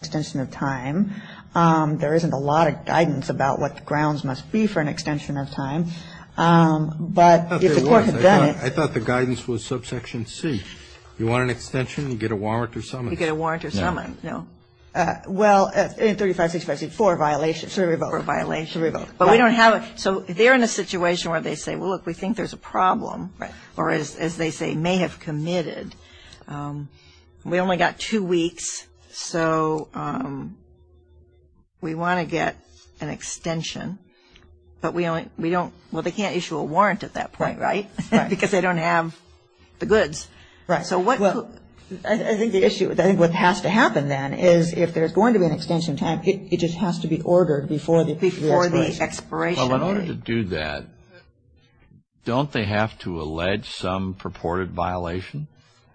extension of time. There isn't a lot of guidance about what the grounds must be for an extension of time. But if the court had done it — I thought there was. I thought the guidance was subsection C. You want an extension, you get a warrant or summons. You get a warrant or summons. No. No. Well, 35, 65, 64, violation. Survey vote. Survey vote. But we don't have it. So they're in a situation where they say, well, look, we think there's a problem. Right. Or as they say, may have committed. And we only got two weeks. So we want to get an extension. But we don't — well, they can't issue a warrant at that point, right? Right. Because they don't have the goods. Right. So what — Well, I think the issue — I think what has to happen then is if there's going to be an extension of time, it just has to be ordered before the expiration. Well, in order to do that, don't they have to allege some purported violation?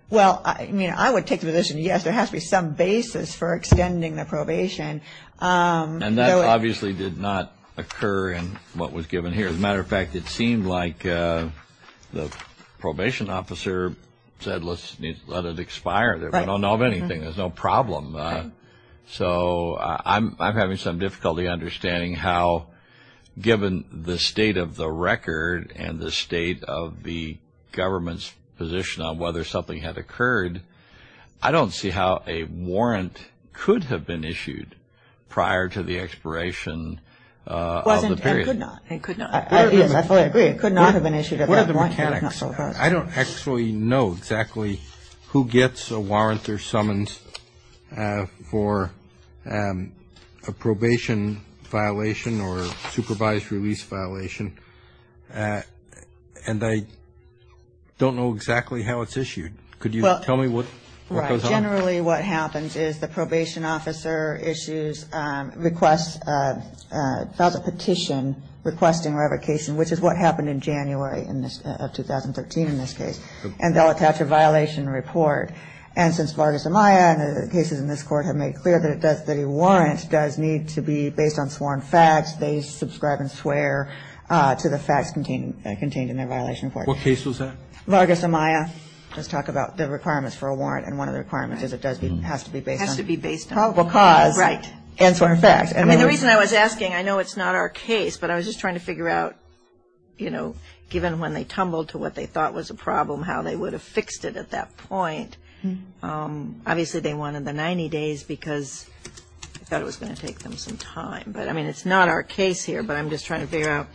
Well, I mean, I would take the position, yes, there has to be some basis for extending the probation. And that obviously did not occur in what was given here. As a matter of fact, it seemed like the probation officer said, let's let it expire. Right. We don't know of anything. There's no problem. So I'm having some difficulty understanding how, given the state of the record and the state of the government's position on whether something had occurred, I don't see how a warrant could have been issued prior to the expiration of the period. It wasn't and could not. It could not. I agree. It could not have been issued at that point. I don't actually know exactly who gets a warrant or summons for a probation violation or supervised release violation, and I don't know exactly how it's issued. Could you tell me what goes on? Right. Generally what happens is the probation officer issues a petition requesting revocation, which is what happened in January of 2013 in this case, and they'll attach a violation report. And since Vargas Amaya and the cases in this Court have made clear that a warrant does need to be based on sworn facts, they subscribe and swear to the facts contained in their violation report. What case was that? Vargas Amaya does talk about the requirements for a warrant, and one of the requirements is it has to be based on probable cause and sworn facts. I mean, the reason I was asking, I know it's not our case, but I was just trying to figure out, you know, given when they tumbled to what they thought was a problem, how they would have fixed it at that point. Obviously they wanted the 90 days because I thought it was going to take them some time. But, I mean, it's not our case here, but I'm just trying to figure out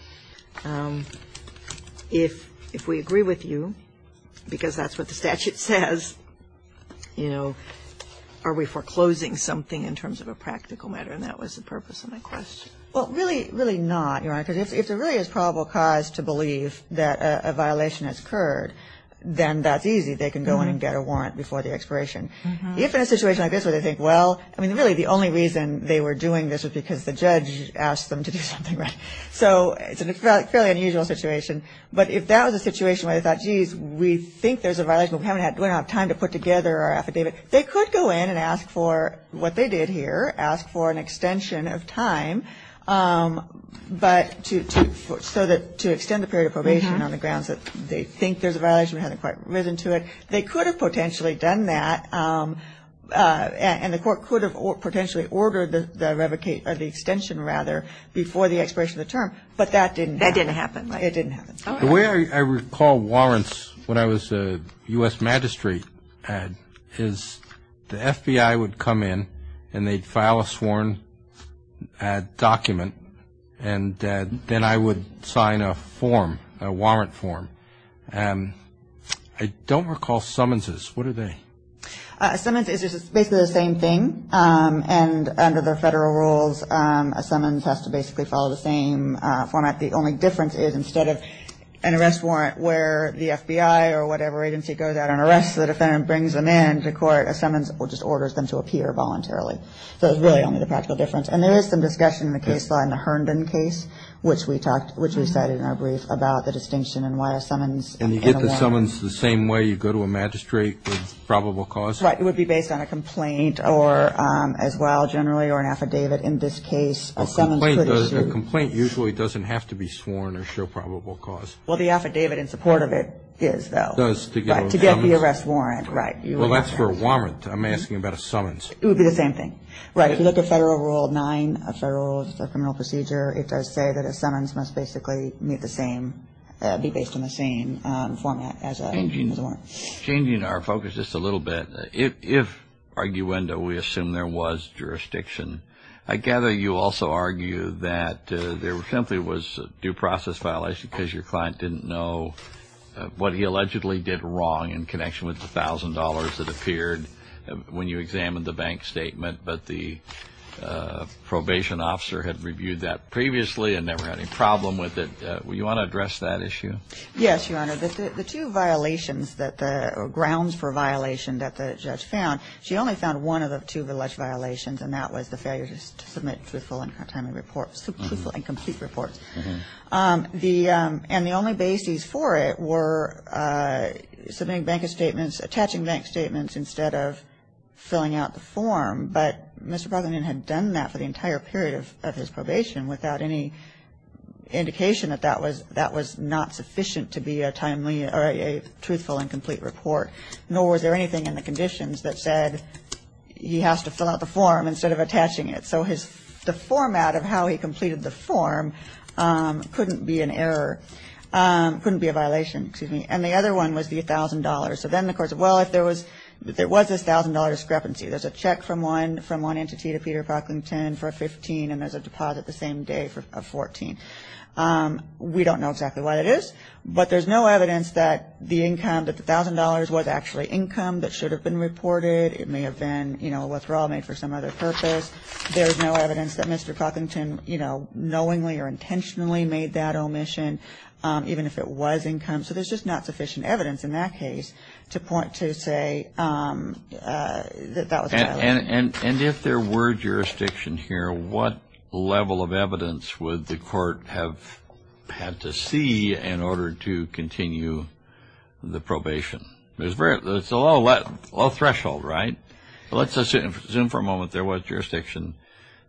if we agree with you, because that's what the statute says, you know, are we foreclosing something in terms of a practical matter? And that was the purpose of my question. Well, really, really not, Your Honor, because if there really is probable cause to believe that a violation has occurred, then that's easy. They can go in and get a warrant before the expiration. If in a situation like this where they think, well, I mean, really, the only reason they were doing this was because the judge asked them to do something, right? So it's a fairly unusual situation. But if that was a situation where they thought, geez, we think there's a violation, but we don't have time to put together our affidavit, they could go in and ask for what they did here, ask for an extension of time, but to extend the period of probation on the grounds that they think there's a violation, we haven't quite risen to it, they could have potentially done that, and the court could have potentially ordered the extension rather before the expiration of the term. But that didn't happen. That didn't happen. It didn't happen. The way I recall warrants when I was a U.S. magistrate is the FBI would come in and they'd file a sworn document, and then I would sign a form, a warrant form. I don't recall summonses. What are they? A summons is basically the same thing, and under the federal rules, a summons has to basically follow the same format. The only difference is instead of an arrest warrant where the FBI or whatever agency goes out and arrests the defendant and brings them in to court, a summons just orders them to appear voluntarily. So it's really only the practical difference. And there is some discussion in the case law in the Herndon case, which we cited in our brief about the distinction and why a summons in a warrant. And you get the summons the same way you go to a magistrate with probable cause? Right. It would be based on a complaint as well, generally, or an affidavit. In this case, a summons could issue. A complaint usually doesn't have to be sworn or show probable cause. Well, the affidavit in support of it is, though. Does, to get a summons? To get the arrest warrant, right. Well, that's for a warrant. I'm asking about a summons. It would be the same thing. Right. If you look at Federal Rule 9, a federal criminal procedure, it does say that a summons must basically meet the same, be based on the same format as a warrant. Changing our focus just a little bit, if, arguendo, we assume there was jurisdiction, I gather you also argue that there simply was due process violation because your client didn't know what he allegedly did wrong in connection with the $1,000 that appeared when you examined the bank statement, but the probation officer had reviewed that previously and never had any problem with it. Do you want to address that issue? Yes, Your Honor. The two violations that the grounds for violation that the judge found, she only found one of the two alleged violations, and that was the failure to submit truthful and timely reports, truthful and complete reports. And the only bases for it were submitting bank statements, attaching bank statements instead of filling out the form. But Mr. Brotherman had done that for the entire period of his probation without any indication that that was not sufficient to be a timely or a truthful and complete report, nor was there anything in the conditions that said he has to fill out the form instead of attaching it. So the format of how he completed the form couldn't be an error, couldn't be a violation, excuse me. And the other one was the $1,000. So then the court said, well, if there was a $1,000 discrepancy, there's a check from one entity to Peter Proctlington for a 15 and there's a deposit the same day for a 14. We don't know exactly what it is, but there's no evidence that the income, that the $1,000 was actually income that should have been reported. It may have been, you know, a withdrawal made for some other purpose. There's no evidence that Mr. Proctlington, you know, knowingly or intentionally made that omission, even if it was income. So there's just not sufficient evidence in that case to point to, say, that that was a violation. And if there were jurisdiction here, what level of evidence would the court have had to see in order to continue the probation? It's a low threshold, right? Let's assume for a moment there was jurisdiction.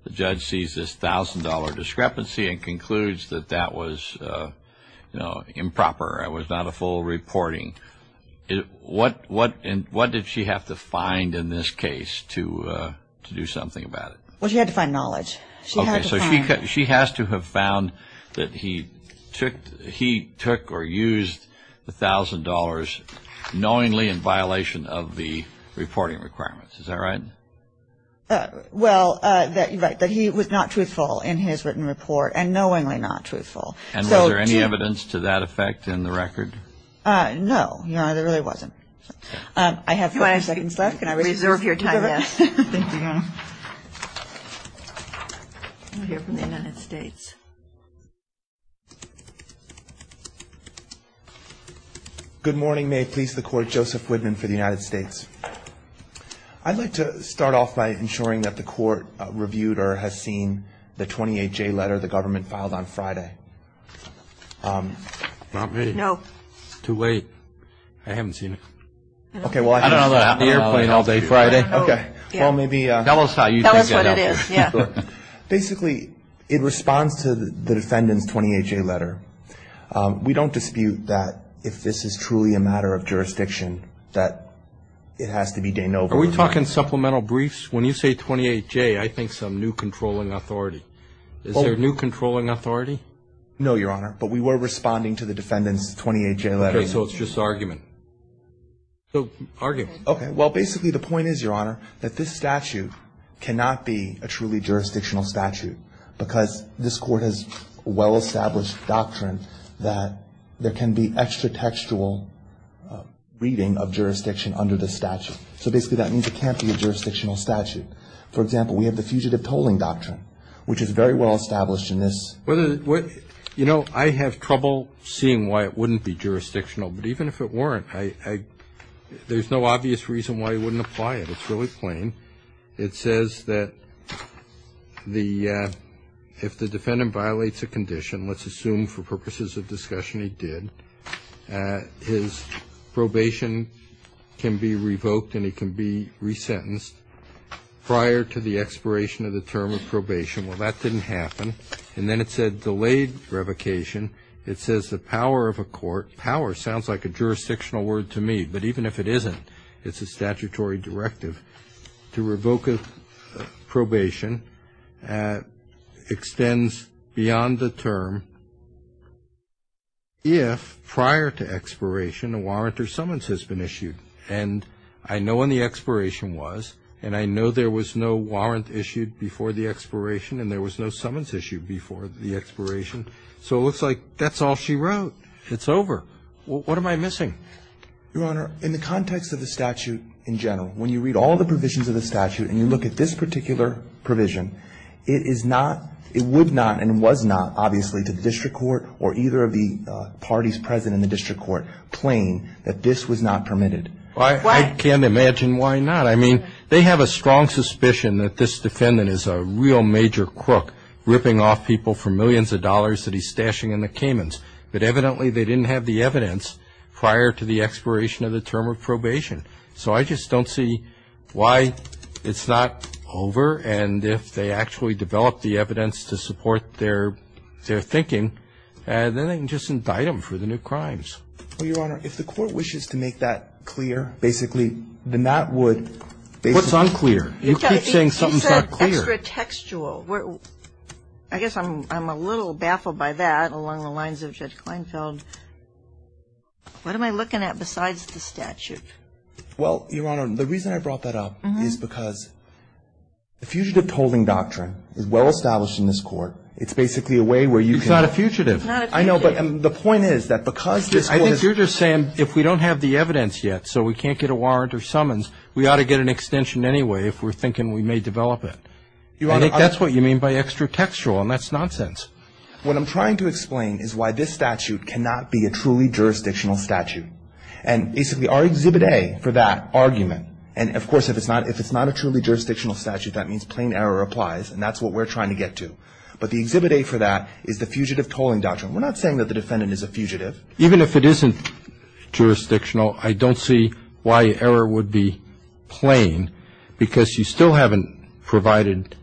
The judge sees this $1,000 discrepancy and concludes that that was, you know, improper. It was not a full reporting. What did she have to find in this case to do something about it? Well, she had to find knowledge. Okay, so she has to have found that he took or used the $1,000 knowingly in violation of the reporting requirements. Is that right? Well, that he was not truthful in his written report and knowingly not truthful. Ms. Laird. No. No, there really wasn't. I have 30 seconds left. Can I reserve your time? Yes. Thank you. We'll hear from the United States. Good morning. May it please the Court, Joseph Widman for the United States. I'd like to start off by ensuring that the Court reviewed or has seen the 28J letter the government filed on Friday. Not me. No. Too late. I haven't seen it. Okay. I don't know what happened. I've been on the airplane all day Friday. Okay. Well, maybe. Tell us what it is. Basically, it responds to the defendant's 28J letter. We don't dispute that if this is truly a matter of jurisdiction, that it has to be de novo. Are we talking supplemental briefs? When you say 28J, I think some new controlling authority. Is there a new controlling authority? No, Your Honor. But we were responding to the defendant's 28J letter. Okay. So it's just argument. So argument. Okay. Well, basically the point is, Your Honor, that this statute cannot be a truly jurisdictional statute because this Court has a well-established doctrine that there can be extra textual reading of jurisdiction under the statute. So basically that means it can't be a jurisdictional statute. For example, we have the fugitive tolling doctrine, which is very well established in this. You know, I have trouble seeing why it wouldn't be jurisdictional. But even if it weren't, there's no obvious reason why you wouldn't apply it. It's really plain. It says that if the defendant violates a condition, let's assume for purposes of discussion he did, his probation can be revoked and he can be resentenced prior to the expiration of the term of probation. Well, that didn't happen. And then it said delayed revocation. It says the power of a court, power sounds like a jurisdictional word to me. But even if it isn't, it's a statutory directive. To revoke a probation extends beyond the term if prior to expiration a warrant or summons has been issued. And I know when the expiration was, and I know there was no warrant issued before the expiration and there was no summons issued before the expiration. So it looks like that's all she wrote. It's over. What am I missing? Your Honor, in the context of the statute in general, when you read all the provisions of the statute and you look at this particular provision, it is not, it would not and was not, obviously, to the district court or either of the parties present in the district court plain that this was not permitted. I can't imagine why not. I mean, they have a strong suspicion that this defendant is a real major crook, ripping off people for millions of dollars that he's stashing in the Caymans. But evidently, they didn't have the evidence prior to the expiration of the term of probation. So I just don't see why it's not over. And if they actually develop the evidence to support their thinking, then they can just indict him for the new crimes. Well, Your Honor, if the Court wishes to make that clear, basically, then that would What's unclear? You keep saying something's not clear. You said extra textual. I guess I'm a little baffled by that along the lines of Judge Kleinfeld. What am I looking at besides the statute? Well, Your Honor, the reason I brought that up is because the fugitive tolling doctrine is well established in this Court. It's basically a way where you can It's not a fugitive. It's not a fugitive. But the point is that because this Court has I think you're just saying if we don't have the evidence yet, so we can't get a warrant or summons, we ought to get an extension anyway if we're thinking we may develop it. I think that's what you mean by extra textual, and that's nonsense. What I'm trying to explain is why this statute cannot be a truly jurisdictional statute. And basically, our Exhibit A for that argument, and, of course, if it's not a truly jurisdictional statute, that means plain error applies, and that's what we're trying to get to. But the Exhibit A for that is the fugitive tolling doctrine. We're not saying that the defendant is a fugitive. Even if it isn't jurisdictional, I don't see why error would be plain because you still haven't provided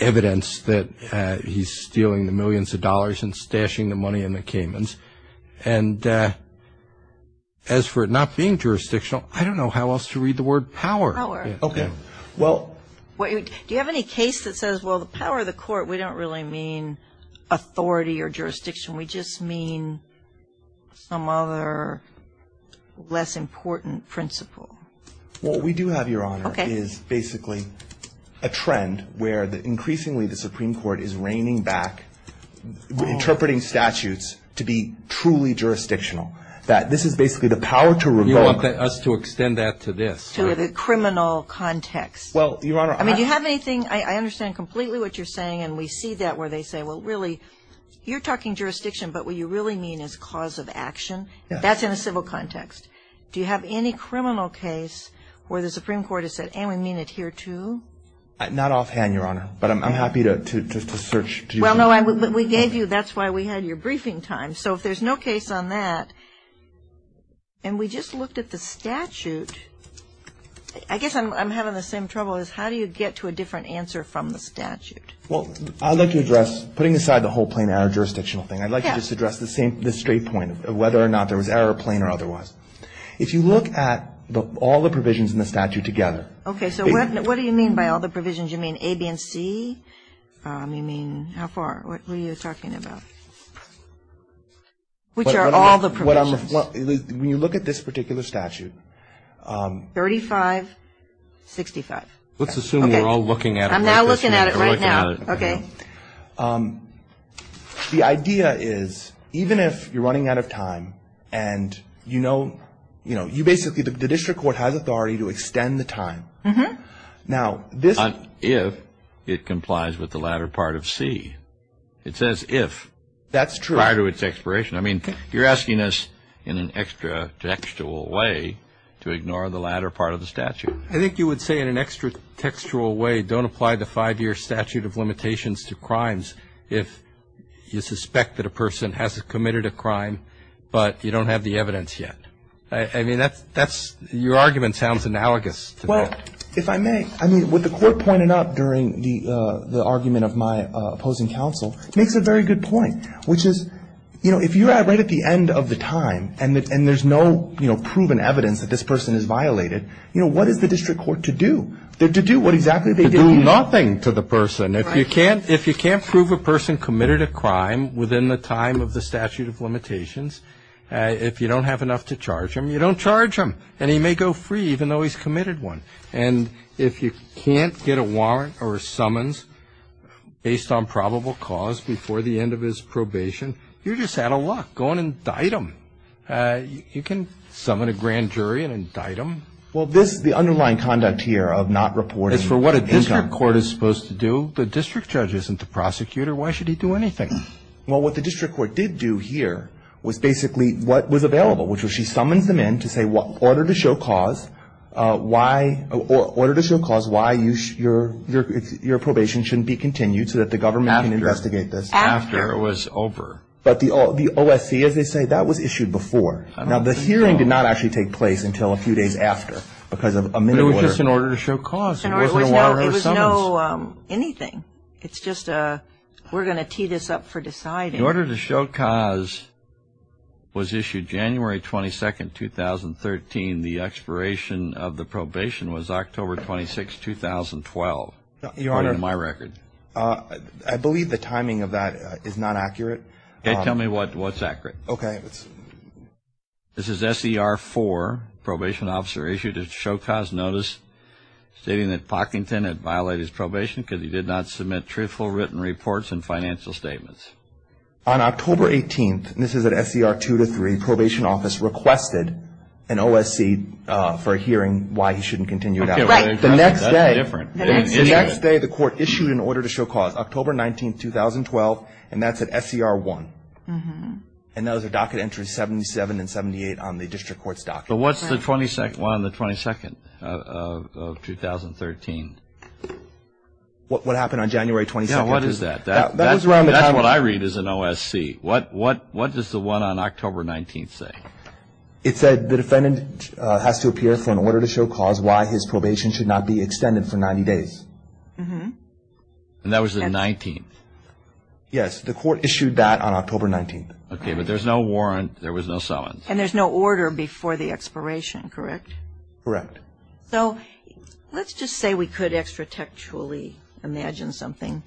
evidence that he's stealing the millions of dollars and stashing the money in the Caymans. And as for it not being jurisdictional, I don't know how else to read the word power. Power. Okay. So, Your Honor, we don't really mean authority or jurisdiction. We just mean some other less important principle. What we do have, Your Honor, is basically a trend where increasingly the Supreme Court is reining back interpreting statutes to be truly jurisdictional, that this is basically the power to revoke. You want us to extend that to this. To the criminal context. Well, Your Honor, I'm not going to. I'm not going to. I'm going to say what you're saying and we see that where they say, well, really, you're talking jurisdiction, but what you really mean is cause of action. That's in a civil context. Do you have any criminal case where the Supreme Court has said, and we mean it here, too? Not offhand, Your Honor. But I'm happy to search. Well, no, we gave you. That's why we had your briefing time. So if there's no case on that and we just looked at the statute, I guess I'm having the same trouble is how do you get to a different answer from the statute? Well, I'd like to address, putting aside the whole plain error jurisdictional thing, I'd like to just address the same, the straight point of whether or not there was error, plain or otherwise. If you look at all the provisions in the statute together. Okay. So what do you mean by all the provisions? You mean A, B, and C? You mean how far? What were you talking about? Which are all the provisions? When you look at this particular statute. 35, 65. Let's assume we're all looking at it. I'm now looking at it right now. Okay. The idea is even if you're running out of time and you know, you know, you basically, the district court has authority to extend the time. Now, this. Not if it complies with the latter part of C. It says if. That's true. Prior to its expiration. I mean, you're asking us in an extra textual way to ignore the latter part of the statute. I think you would say in an extra textual way, don't apply the five-year statute of limitations to crimes if you suspect that a person hasn't committed a crime, but you don't have the evidence yet. I mean, that's, that's, your argument sounds analogous to that. Well, if I may. I mean, what the Court pointed out during the argument of my opposing counsel makes a very good point, which is, you know, if you're right at the end of the time and there's no, you know, proven evidence that this person is violated, you know, what is the district court to do? To do what exactly they did. To do nothing to the person. Right. If you can't prove a person committed a crime within the time of the statute of limitations, if you don't have enough to charge him, you don't charge him, and he may go free even though he's committed one. And if you can't get a warrant or a summons based on probable cause before the end of his probation, you're just out of luck. Go on and indict him. You can summon a grand jury and indict him. Well, this, the underlying conduct here of not reporting income. As for what a district court is supposed to do, the district judge isn't the prosecutor. Why should he do anything? Well, what the district court did do here was basically what was available, which was she summons them in to say order to show cause why, order to show cause why your probation shouldn't be continued so that the government can investigate this. It was a couple days after it was over. But the OSC, as they say, that was issued before. Now, the hearing did not actually take place until a few days after because of a minute order. It was just an order to show cause. It was not a warrant or summons. It was not anything. It's just we're going to tee this up for deciding. In order to show cause was issued January 22nd, 2013. The expiration of the probation was October 26th, 2012. Your Honor. In my record. I believe the timing of that is not accurate. Okay. Tell me what's accurate. Okay. This is SER4, probation officer issued a show cause notice stating that on October 18th, and this is at SER2 to 3, probation office requested an OSC for a hearing why he shouldn't continue that. Right. The next day. That's different. The next day the court issued an order to show cause, October 19th, 2012, and that's at SER1. And that was a docket entry 77 and 78 on the district court's docket. But what's the 22nd of 2013? What happened on January 22nd? Yeah, what is that? That was around the time. That's what I read as an OSC. What does the one on October 19th say? It said the defendant has to appear for an order to show cause why his probation should not be extended for 90 days. And that was the 19th. Yes. The court issued that on October 19th. Okay. But there's no warrant. There was no summons. And there's no order before the expiration, correct? Correct. So let's just say we could extra-textually imagine something.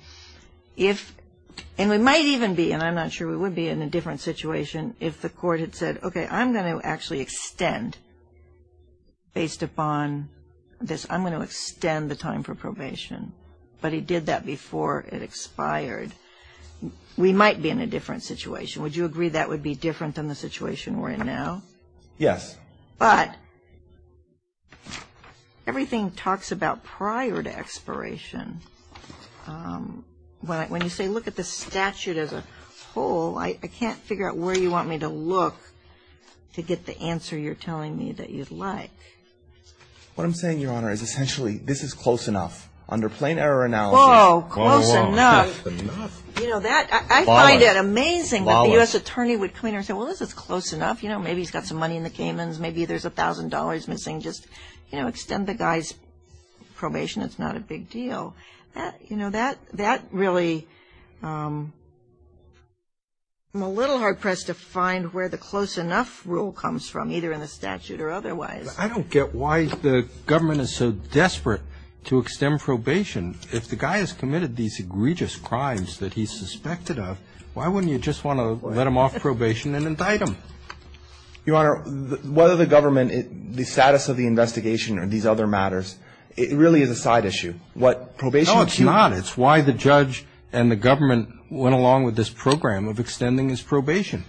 And we might even be, and I'm not sure we would be, in a different situation if the court had said, okay, I'm going to actually extend based upon this. I'm going to extend the time for probation. But he did that before it expired. We might be in a different situation. Would you agree that would be different than the situation we're in now? Yes. But everything talks about prior to expiration. When you say look at the statute as a whole, I can't figure out where you want me to look to get the answer you're telling me that you'd like. What I'm saying, Your Honor, is essentially this is close enough. Under plain error analysis. Whoa. Close enough. You know, I find it amazing that the U.S. attorney would come in and say, well, this is close enough. You know, maybe he's got some money in the Caymans. Maybe there's $1,000 missing. Just, you know, extend the guy's probation. It's not a big deal. You know, that really, I'm a little hard-pressed to find where the close enough rule comes from, either in the statute or otherwise. I don't get why the government is so desperate to extend probation. If the guy has committed these egregious crimes that he's suspected of, why wouldn't you just want to let him off probation and indict him? Your Honor, whether the government, the status of the investigation or these other matters, it really is a side issue. What probation is. No, it's not. It's why the judge and the government went along with this program of extending his probation.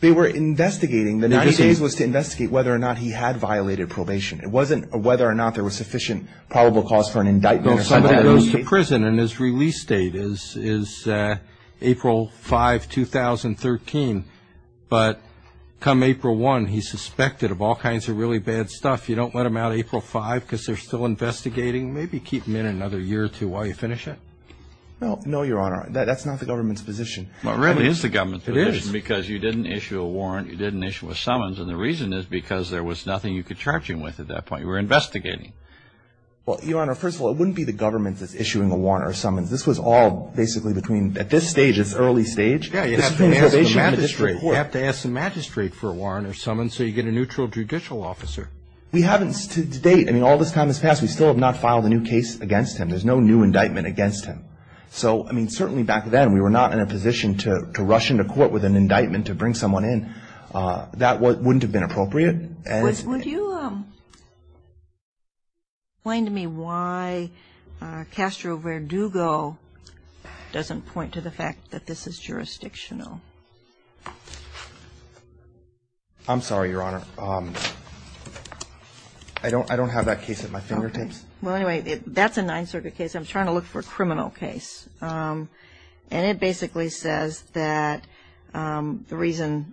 They were investigating. The 90 days was to investigate whether or not he had violated probation. It wasn't whether or not there was sufficient probable cause for an indictment or something. He goes to prison and his release date is April 5, 2013. But come April 1, he's suspected of all kinds of really bad stuff. You don't let him out April 5 because they're still investigating? Maybe keep him in another year or two while you finish it. No, Your Honor. That's not the government's position. It really is the government's position because you didn't issue a warrant, you didn't issue a summons, and the reason is because there was nothing you could charge him with at that point. You were investigating. Well, Your Honor, first of all, it wouldn't be the government that's issuing a warrant or summons. This was all basically between at this stage, this early stage. Yeah, you have to ask the magistrate for a warrant or summons so you get a neutral judicial officer. We haven't to date. I mean, all this time has passed. We still have not filed a new case against him. There's no new indictment against him. So, I mean, certainly back then we were not in a position to rush into court with an indictment to bring someone in. That wouldn't have been appropriate. Would you explain to me why Castro Verdugo doesn't point to the fact that this is jurisdictional? I'm sorry, Your Honor. I don't have that case at my fingertips. Well, anyway, that's a Ninth Circuit case. I'm trying to look for a criminal case. And it basically says that the reason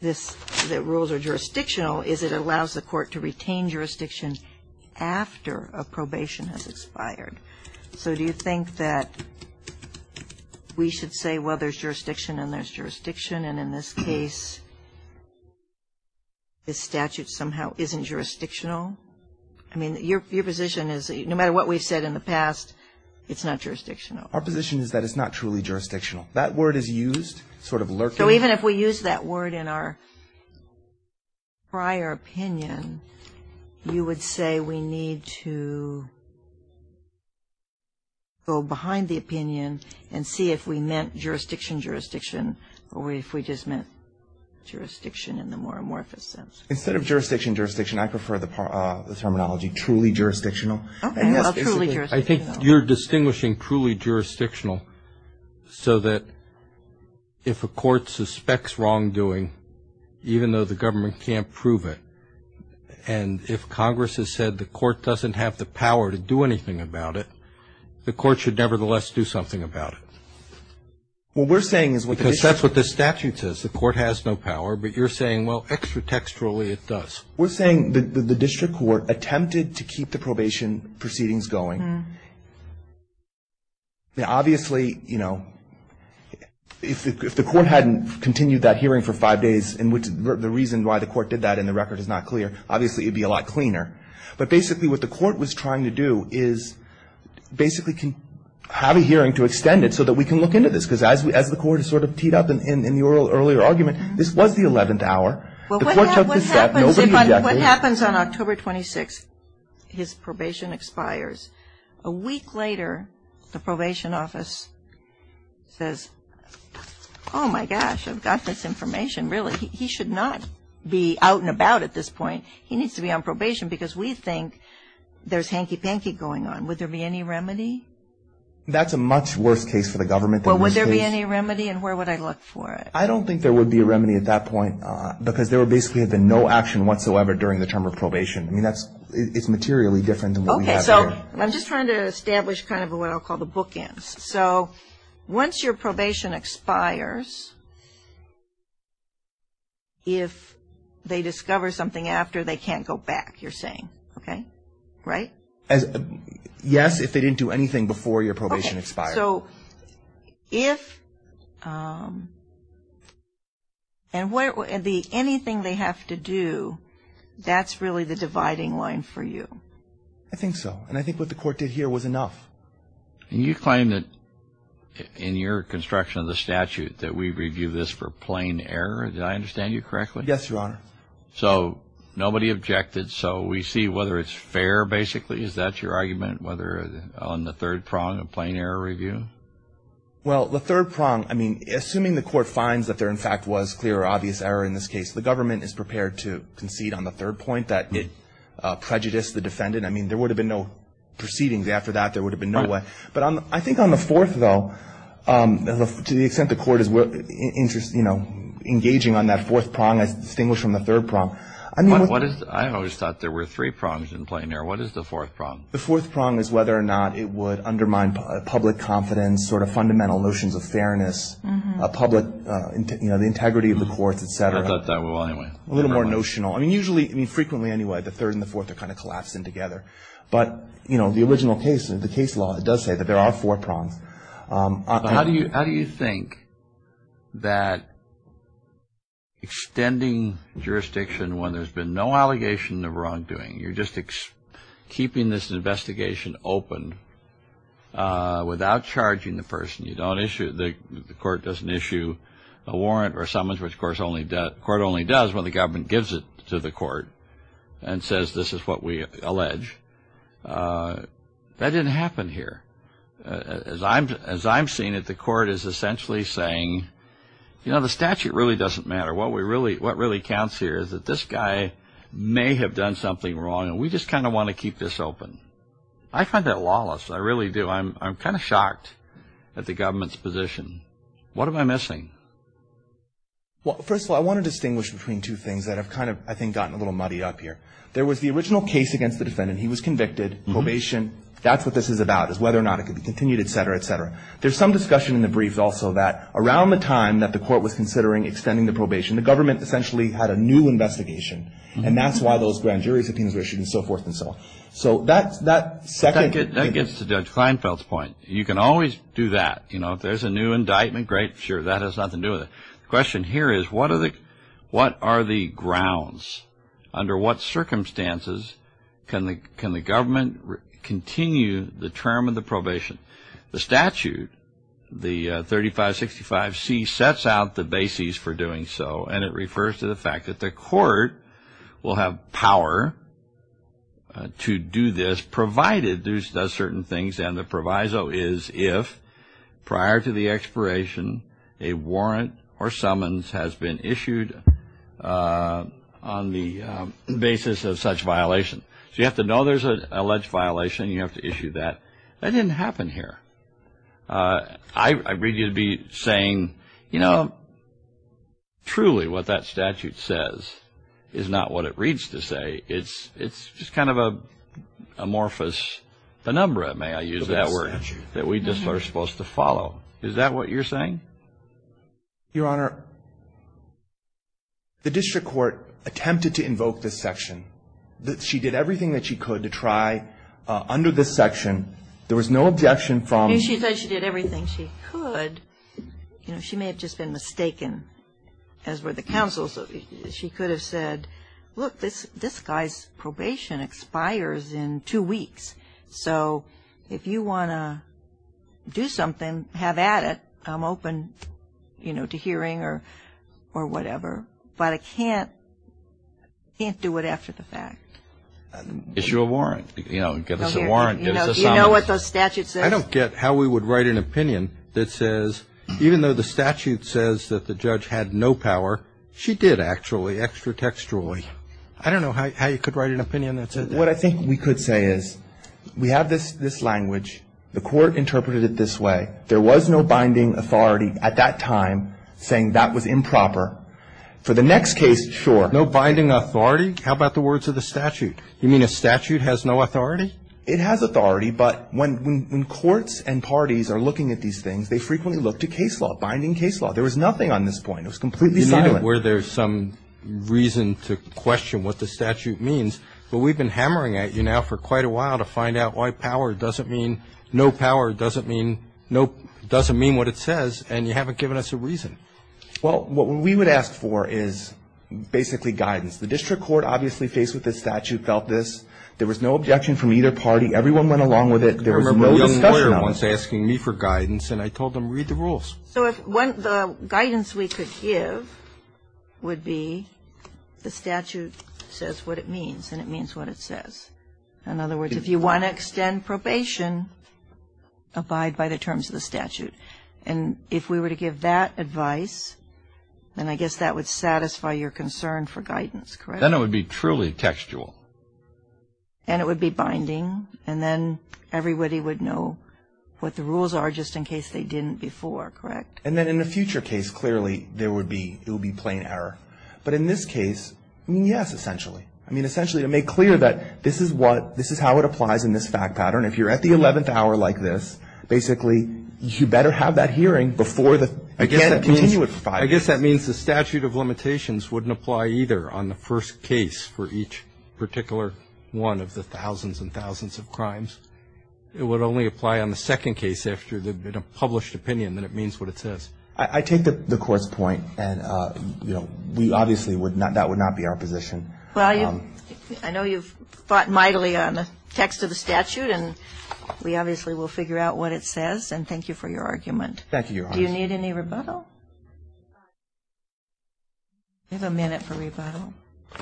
that rules are jurisdictional is it allows the court to retain jurisdiction after a probation has expired. So do you think that we should say, well, there's jurisdiction and there's jurisdiction, and in this case this statute somehow isn't jurisdictional? I mean, your position is no matter what we've said in the past, it's not jurisdictional. Our position is that it's not truly jurisdictional. That word is used sort of lurking. So even if we use that word in our prior opinion, you would say we need to go behind the opinion and see if we meant jurisdiction-jurisdiction or if we just meant jurisdiction in the more amorphous sense. Instead of jurisdiction-jurisdiction, I prefer the terminology truly jurisdictional. Okay. Well, truly jurisdictional. I think you're distinguishing truly jurisdictional so that if a court suspects wrongdoing, even though the government can't prove it, and if Congress has said the court doesn't have the power to do anything about it, the court should nevertheless do something about it. Well, we're saying is what this statute says. The court has no power, but you're saying, well, extra-texturally it does. We're saying the district court attempted to keep the probation proceedings going. Obviously, you know, if the court hadn't continued that hearing for five days, and the reason why the court did that in the record is not clear, obviously it would be a lot cleaner. But basically what the court was trying to do is basically have a hearing to extend it so that we can look into this. Because as the court sort of teed up in the earlier argument, this was the 11th hour. The court took this step. Nobody objected. What happens on October 26th, his probation expires. A week later, the probation office says, oh, my gosh, I've got this information, really. He should not be out and about at this point. He needs to be on probation because we think there's hanky-panky going on. Would there be any remedy? That's a much worse case for the government than this case. Well, would there be any remedy, and where would I look for it? I don't think there would be a remedy at that point because there would basically have been no action whatsoever during the term of probation. I mean, it's materially different than what we have here. Okay. So I'm just trying to establish kind of what I'll call the bookends. So once your probation expires, if they discover something after, they can't go back, you're saying. Okay? Right? Yes, if they didn't do anything before your probation expired. Okay. So if and anything they have to do, that's really the dividing line for you? I think so. And I think what the Court did here was enough. And you claim that in your construction of the statute that we review this for plain error. Did I understand you correctly? Yes, Your Honor. So nobody objected. So we see whether it's fair, basically. Is that your argument, whether on the third prong, a plain error review? Well, the third prong, I mean, assuming the Court finds that there in fact was clear or obvious error in this case, the government is prepared to concede on the third point that it prejudiced the defendant. I mean, there would have been no proceedings after that. There would have been no way. But I think on the fourth, though, to the extent the Court is, you know, engaging on that fourth prong, I distinguish from the third prong. I always thought there were three prongs in plain error. What is the fourth prong? The fourth prong is whether or not it would undermine public confidence, sort of fundamental notions of fairness, public, you know, the integrity of the courts, et cetera. A little more notional. I mean, usually, I mean, frequently anyway, the third and the fourth are kind of collapsing together. But, you know, the original case, the case law, it does say that there are four prongs. How do you think that extending jurisdiction when there's been no allegation of wrongdoing, you're just keeping this investigation open without charging the person, you don't issue, the Court doesn't issue a warrant or summons, which, of course, the Court only does when the government gives it to the Court and says this is what we allege. That didn't happen here. As I'm seeing it, the Court is essentially saying, you know, the statute really doesn't matter. What really counts here is that this guy may have done something wrong, and we just kind of want to keep this open. I find that lawless. I really do. I'm kind of shocked at the government's position. What am I missing? Well, first of all, I want to distinguish between two things that have kind of, I think, gotten a little muddy up here. There was the original case against the defendant. He was convicted. Probation. That's what this is about is whether or not it could be continued, et cetera, et cetera. There's some discussion in the briefs also that around the time that the Court was considering extending the probation, the government essentially had a new investigation, and that's why those grand jury subpoenas were issued and so forth and so on. So that's that second thing. That gets to Judge Kleinfeld's point. You can always do that. You know, if there's a new indictment, great, sure, that has nothing to do with it. The question here is what are the grounds? Under what circumstances can the government continue the term of the probation? The statute, the 3565C, sets out the basis for doing so, and it refers to the fact that the Court will have power to do this provided it does certain things, and the proviso is if prior to the expiration a warrant or summons has been issued on the basis of such violation. So you have to know there's an alleged violation. You have to issue that. That didn't happen here. I read you to be saying, you know, truly what that statute says is not what it reads to say. It's just kind of an amorphous penumbra, may I use that word, that we just are supposed to follow. Is that what you're saying? Your Honor, the district court attempted to invoke this section. She did everything that she could to try under this section. There was no objection from the court. She said she did everything she could. You know, she may have just been mistaken, as were the counsels. She could have said, look, this guy's probation expires in two weeks. So if you want to do something, have at it. I'm open, you know, to hearing or whatever. But I can't do it after the fact. Issue a warrant. You know, give us a warrant. Give us a summons. You know what the statute says? I don't get how we would write an opinion that says even though the statute says that the judge had no power, she did actually, extra textually. I don't know how you could write an opinion that said that. What I think we could say is we have this language. The court interpreted it this way. There was no binding authority at that time saying that was improper. For the next case, sure. No binding authority? How about the words of the statute? You mean a statute has no authority? It has authority, but when courts and parties are looking at these things, they frequently look to case law, binding case law. There was nothing on this point. It was completely silent. You made it where there's some reason to question what the statute means. But we've been hammering at you now for quite a while to find out why power doesn't mean, no power doesn't mean, no, doesn't mean what it says, and you haven't given us a reason. Well, what we would ask for is basically guidance. The district court obviously faced with this statute, felt this. There was no objection from either party. Everyone went along with it. There was no discussion on it. So the guidance we could give would be the statute says what it means, and it means what it says. In other words, if you want to extend probation, abide by the terms of the statute. And if we were to give that advice, then I guess that would satisfy your concern for guidance, correct? Then it would be truly textual. And it would be binding. And then everybody would know what the rules are just in case they didn't before, correct? And then in a future case, clearly, there would be, it would be plain error. But in this case, yes, essentially. I mean, essentially to make clear that this is what, this is how it applies in this fact pattern. If you're at the 11th hour like this, basically you better have that hearing before the, you can't continue it for five years. I guess that means the statute of limitations wouldn't apply either on the first case for each particular one of the thousands and thousands of crimes. It would only apply on the second case after the published opinion that it means what it says. I take the Court's point. And, you know, we obviously would not, that would not be our position. Well, I know you've fought mightily on the text of the statute. And we obviously will figure out what it says. And thank you for your argument. Thank you, Your Honor. Do you need any rebuttal? We have a minute for rebuttal. I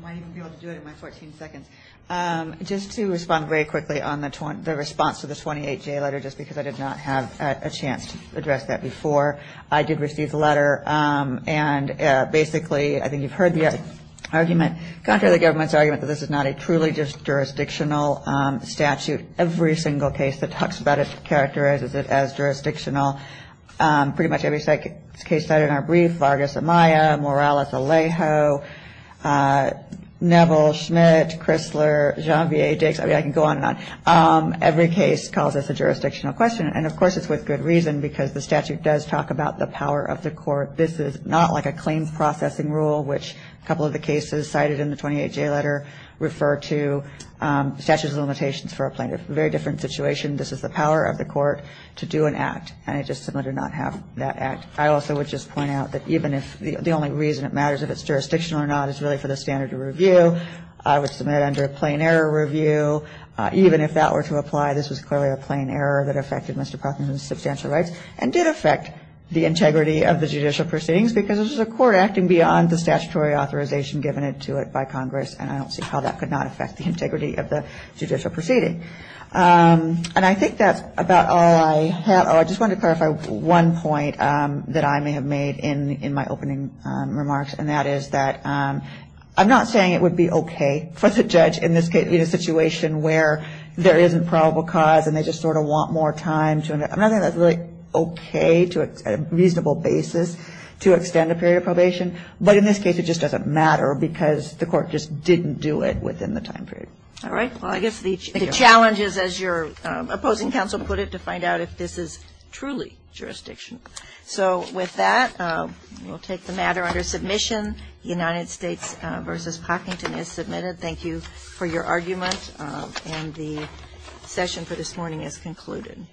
might even be able to do it in my 14 seconds. Just to respond very quickly on the response to the 28-J letter, just because I did not have a chance to address that before, I did receive the letter. And basically I think you've heard the argument, contrary to the government's argument, that this is not a truly just jurisdictional statute. Every single case that talks about it characterizes it as jurisdictional. Pretty much every case cited in our brief, Vargas-Amaya, Morales-Alejo, Neville-Schmidt, Crisler, Jean-Pierre Dix, I can go on and on. Every case calls this a jurisdictional question. And, of course, it's with good reason because the statute does talk about the power of the court. This is not like a claims processing rule, which a couple of the cases cited in the 28-J letter refer to statutes of limitations for a plaintiff. Very different situation. This is the power of the court to do an act. And it's just similar to not have that act. I also would just point out that even if the only reason it matters if it's jurisdictional or not is really for the standard of review, I would submit under a plain error review, even if that were to apply, this was clearly a plain error that affected Mr. Proctor's substantial rights and did affect the integrity of the judicial proceedings because this is a court acting beyond the statutory authorization given to it by Congress, and I don't see how that could not affect the integrity of the judicial proceeding. And I think that's about all I have. Oh, I just wanted to clarify one point that I may have made in my opening remarks, and that is that I'm not saying it would be okay for the judge in this case, in a situation where there isn't probable cause and they just sort of want more time. I'm not saying that's really okay to a reasonable basis to extend a period of probation. But in this case it just doesn't matter because the court just didn't do it within the time period. All right. Well, I guess the challenge is, as your opposing counsel put it, to find out if this is truly jurisdictional. So with that, we'll take the matter under submission. United States v. Pockington is submitted. Thank you for your argument, and the session for this morning is concluded.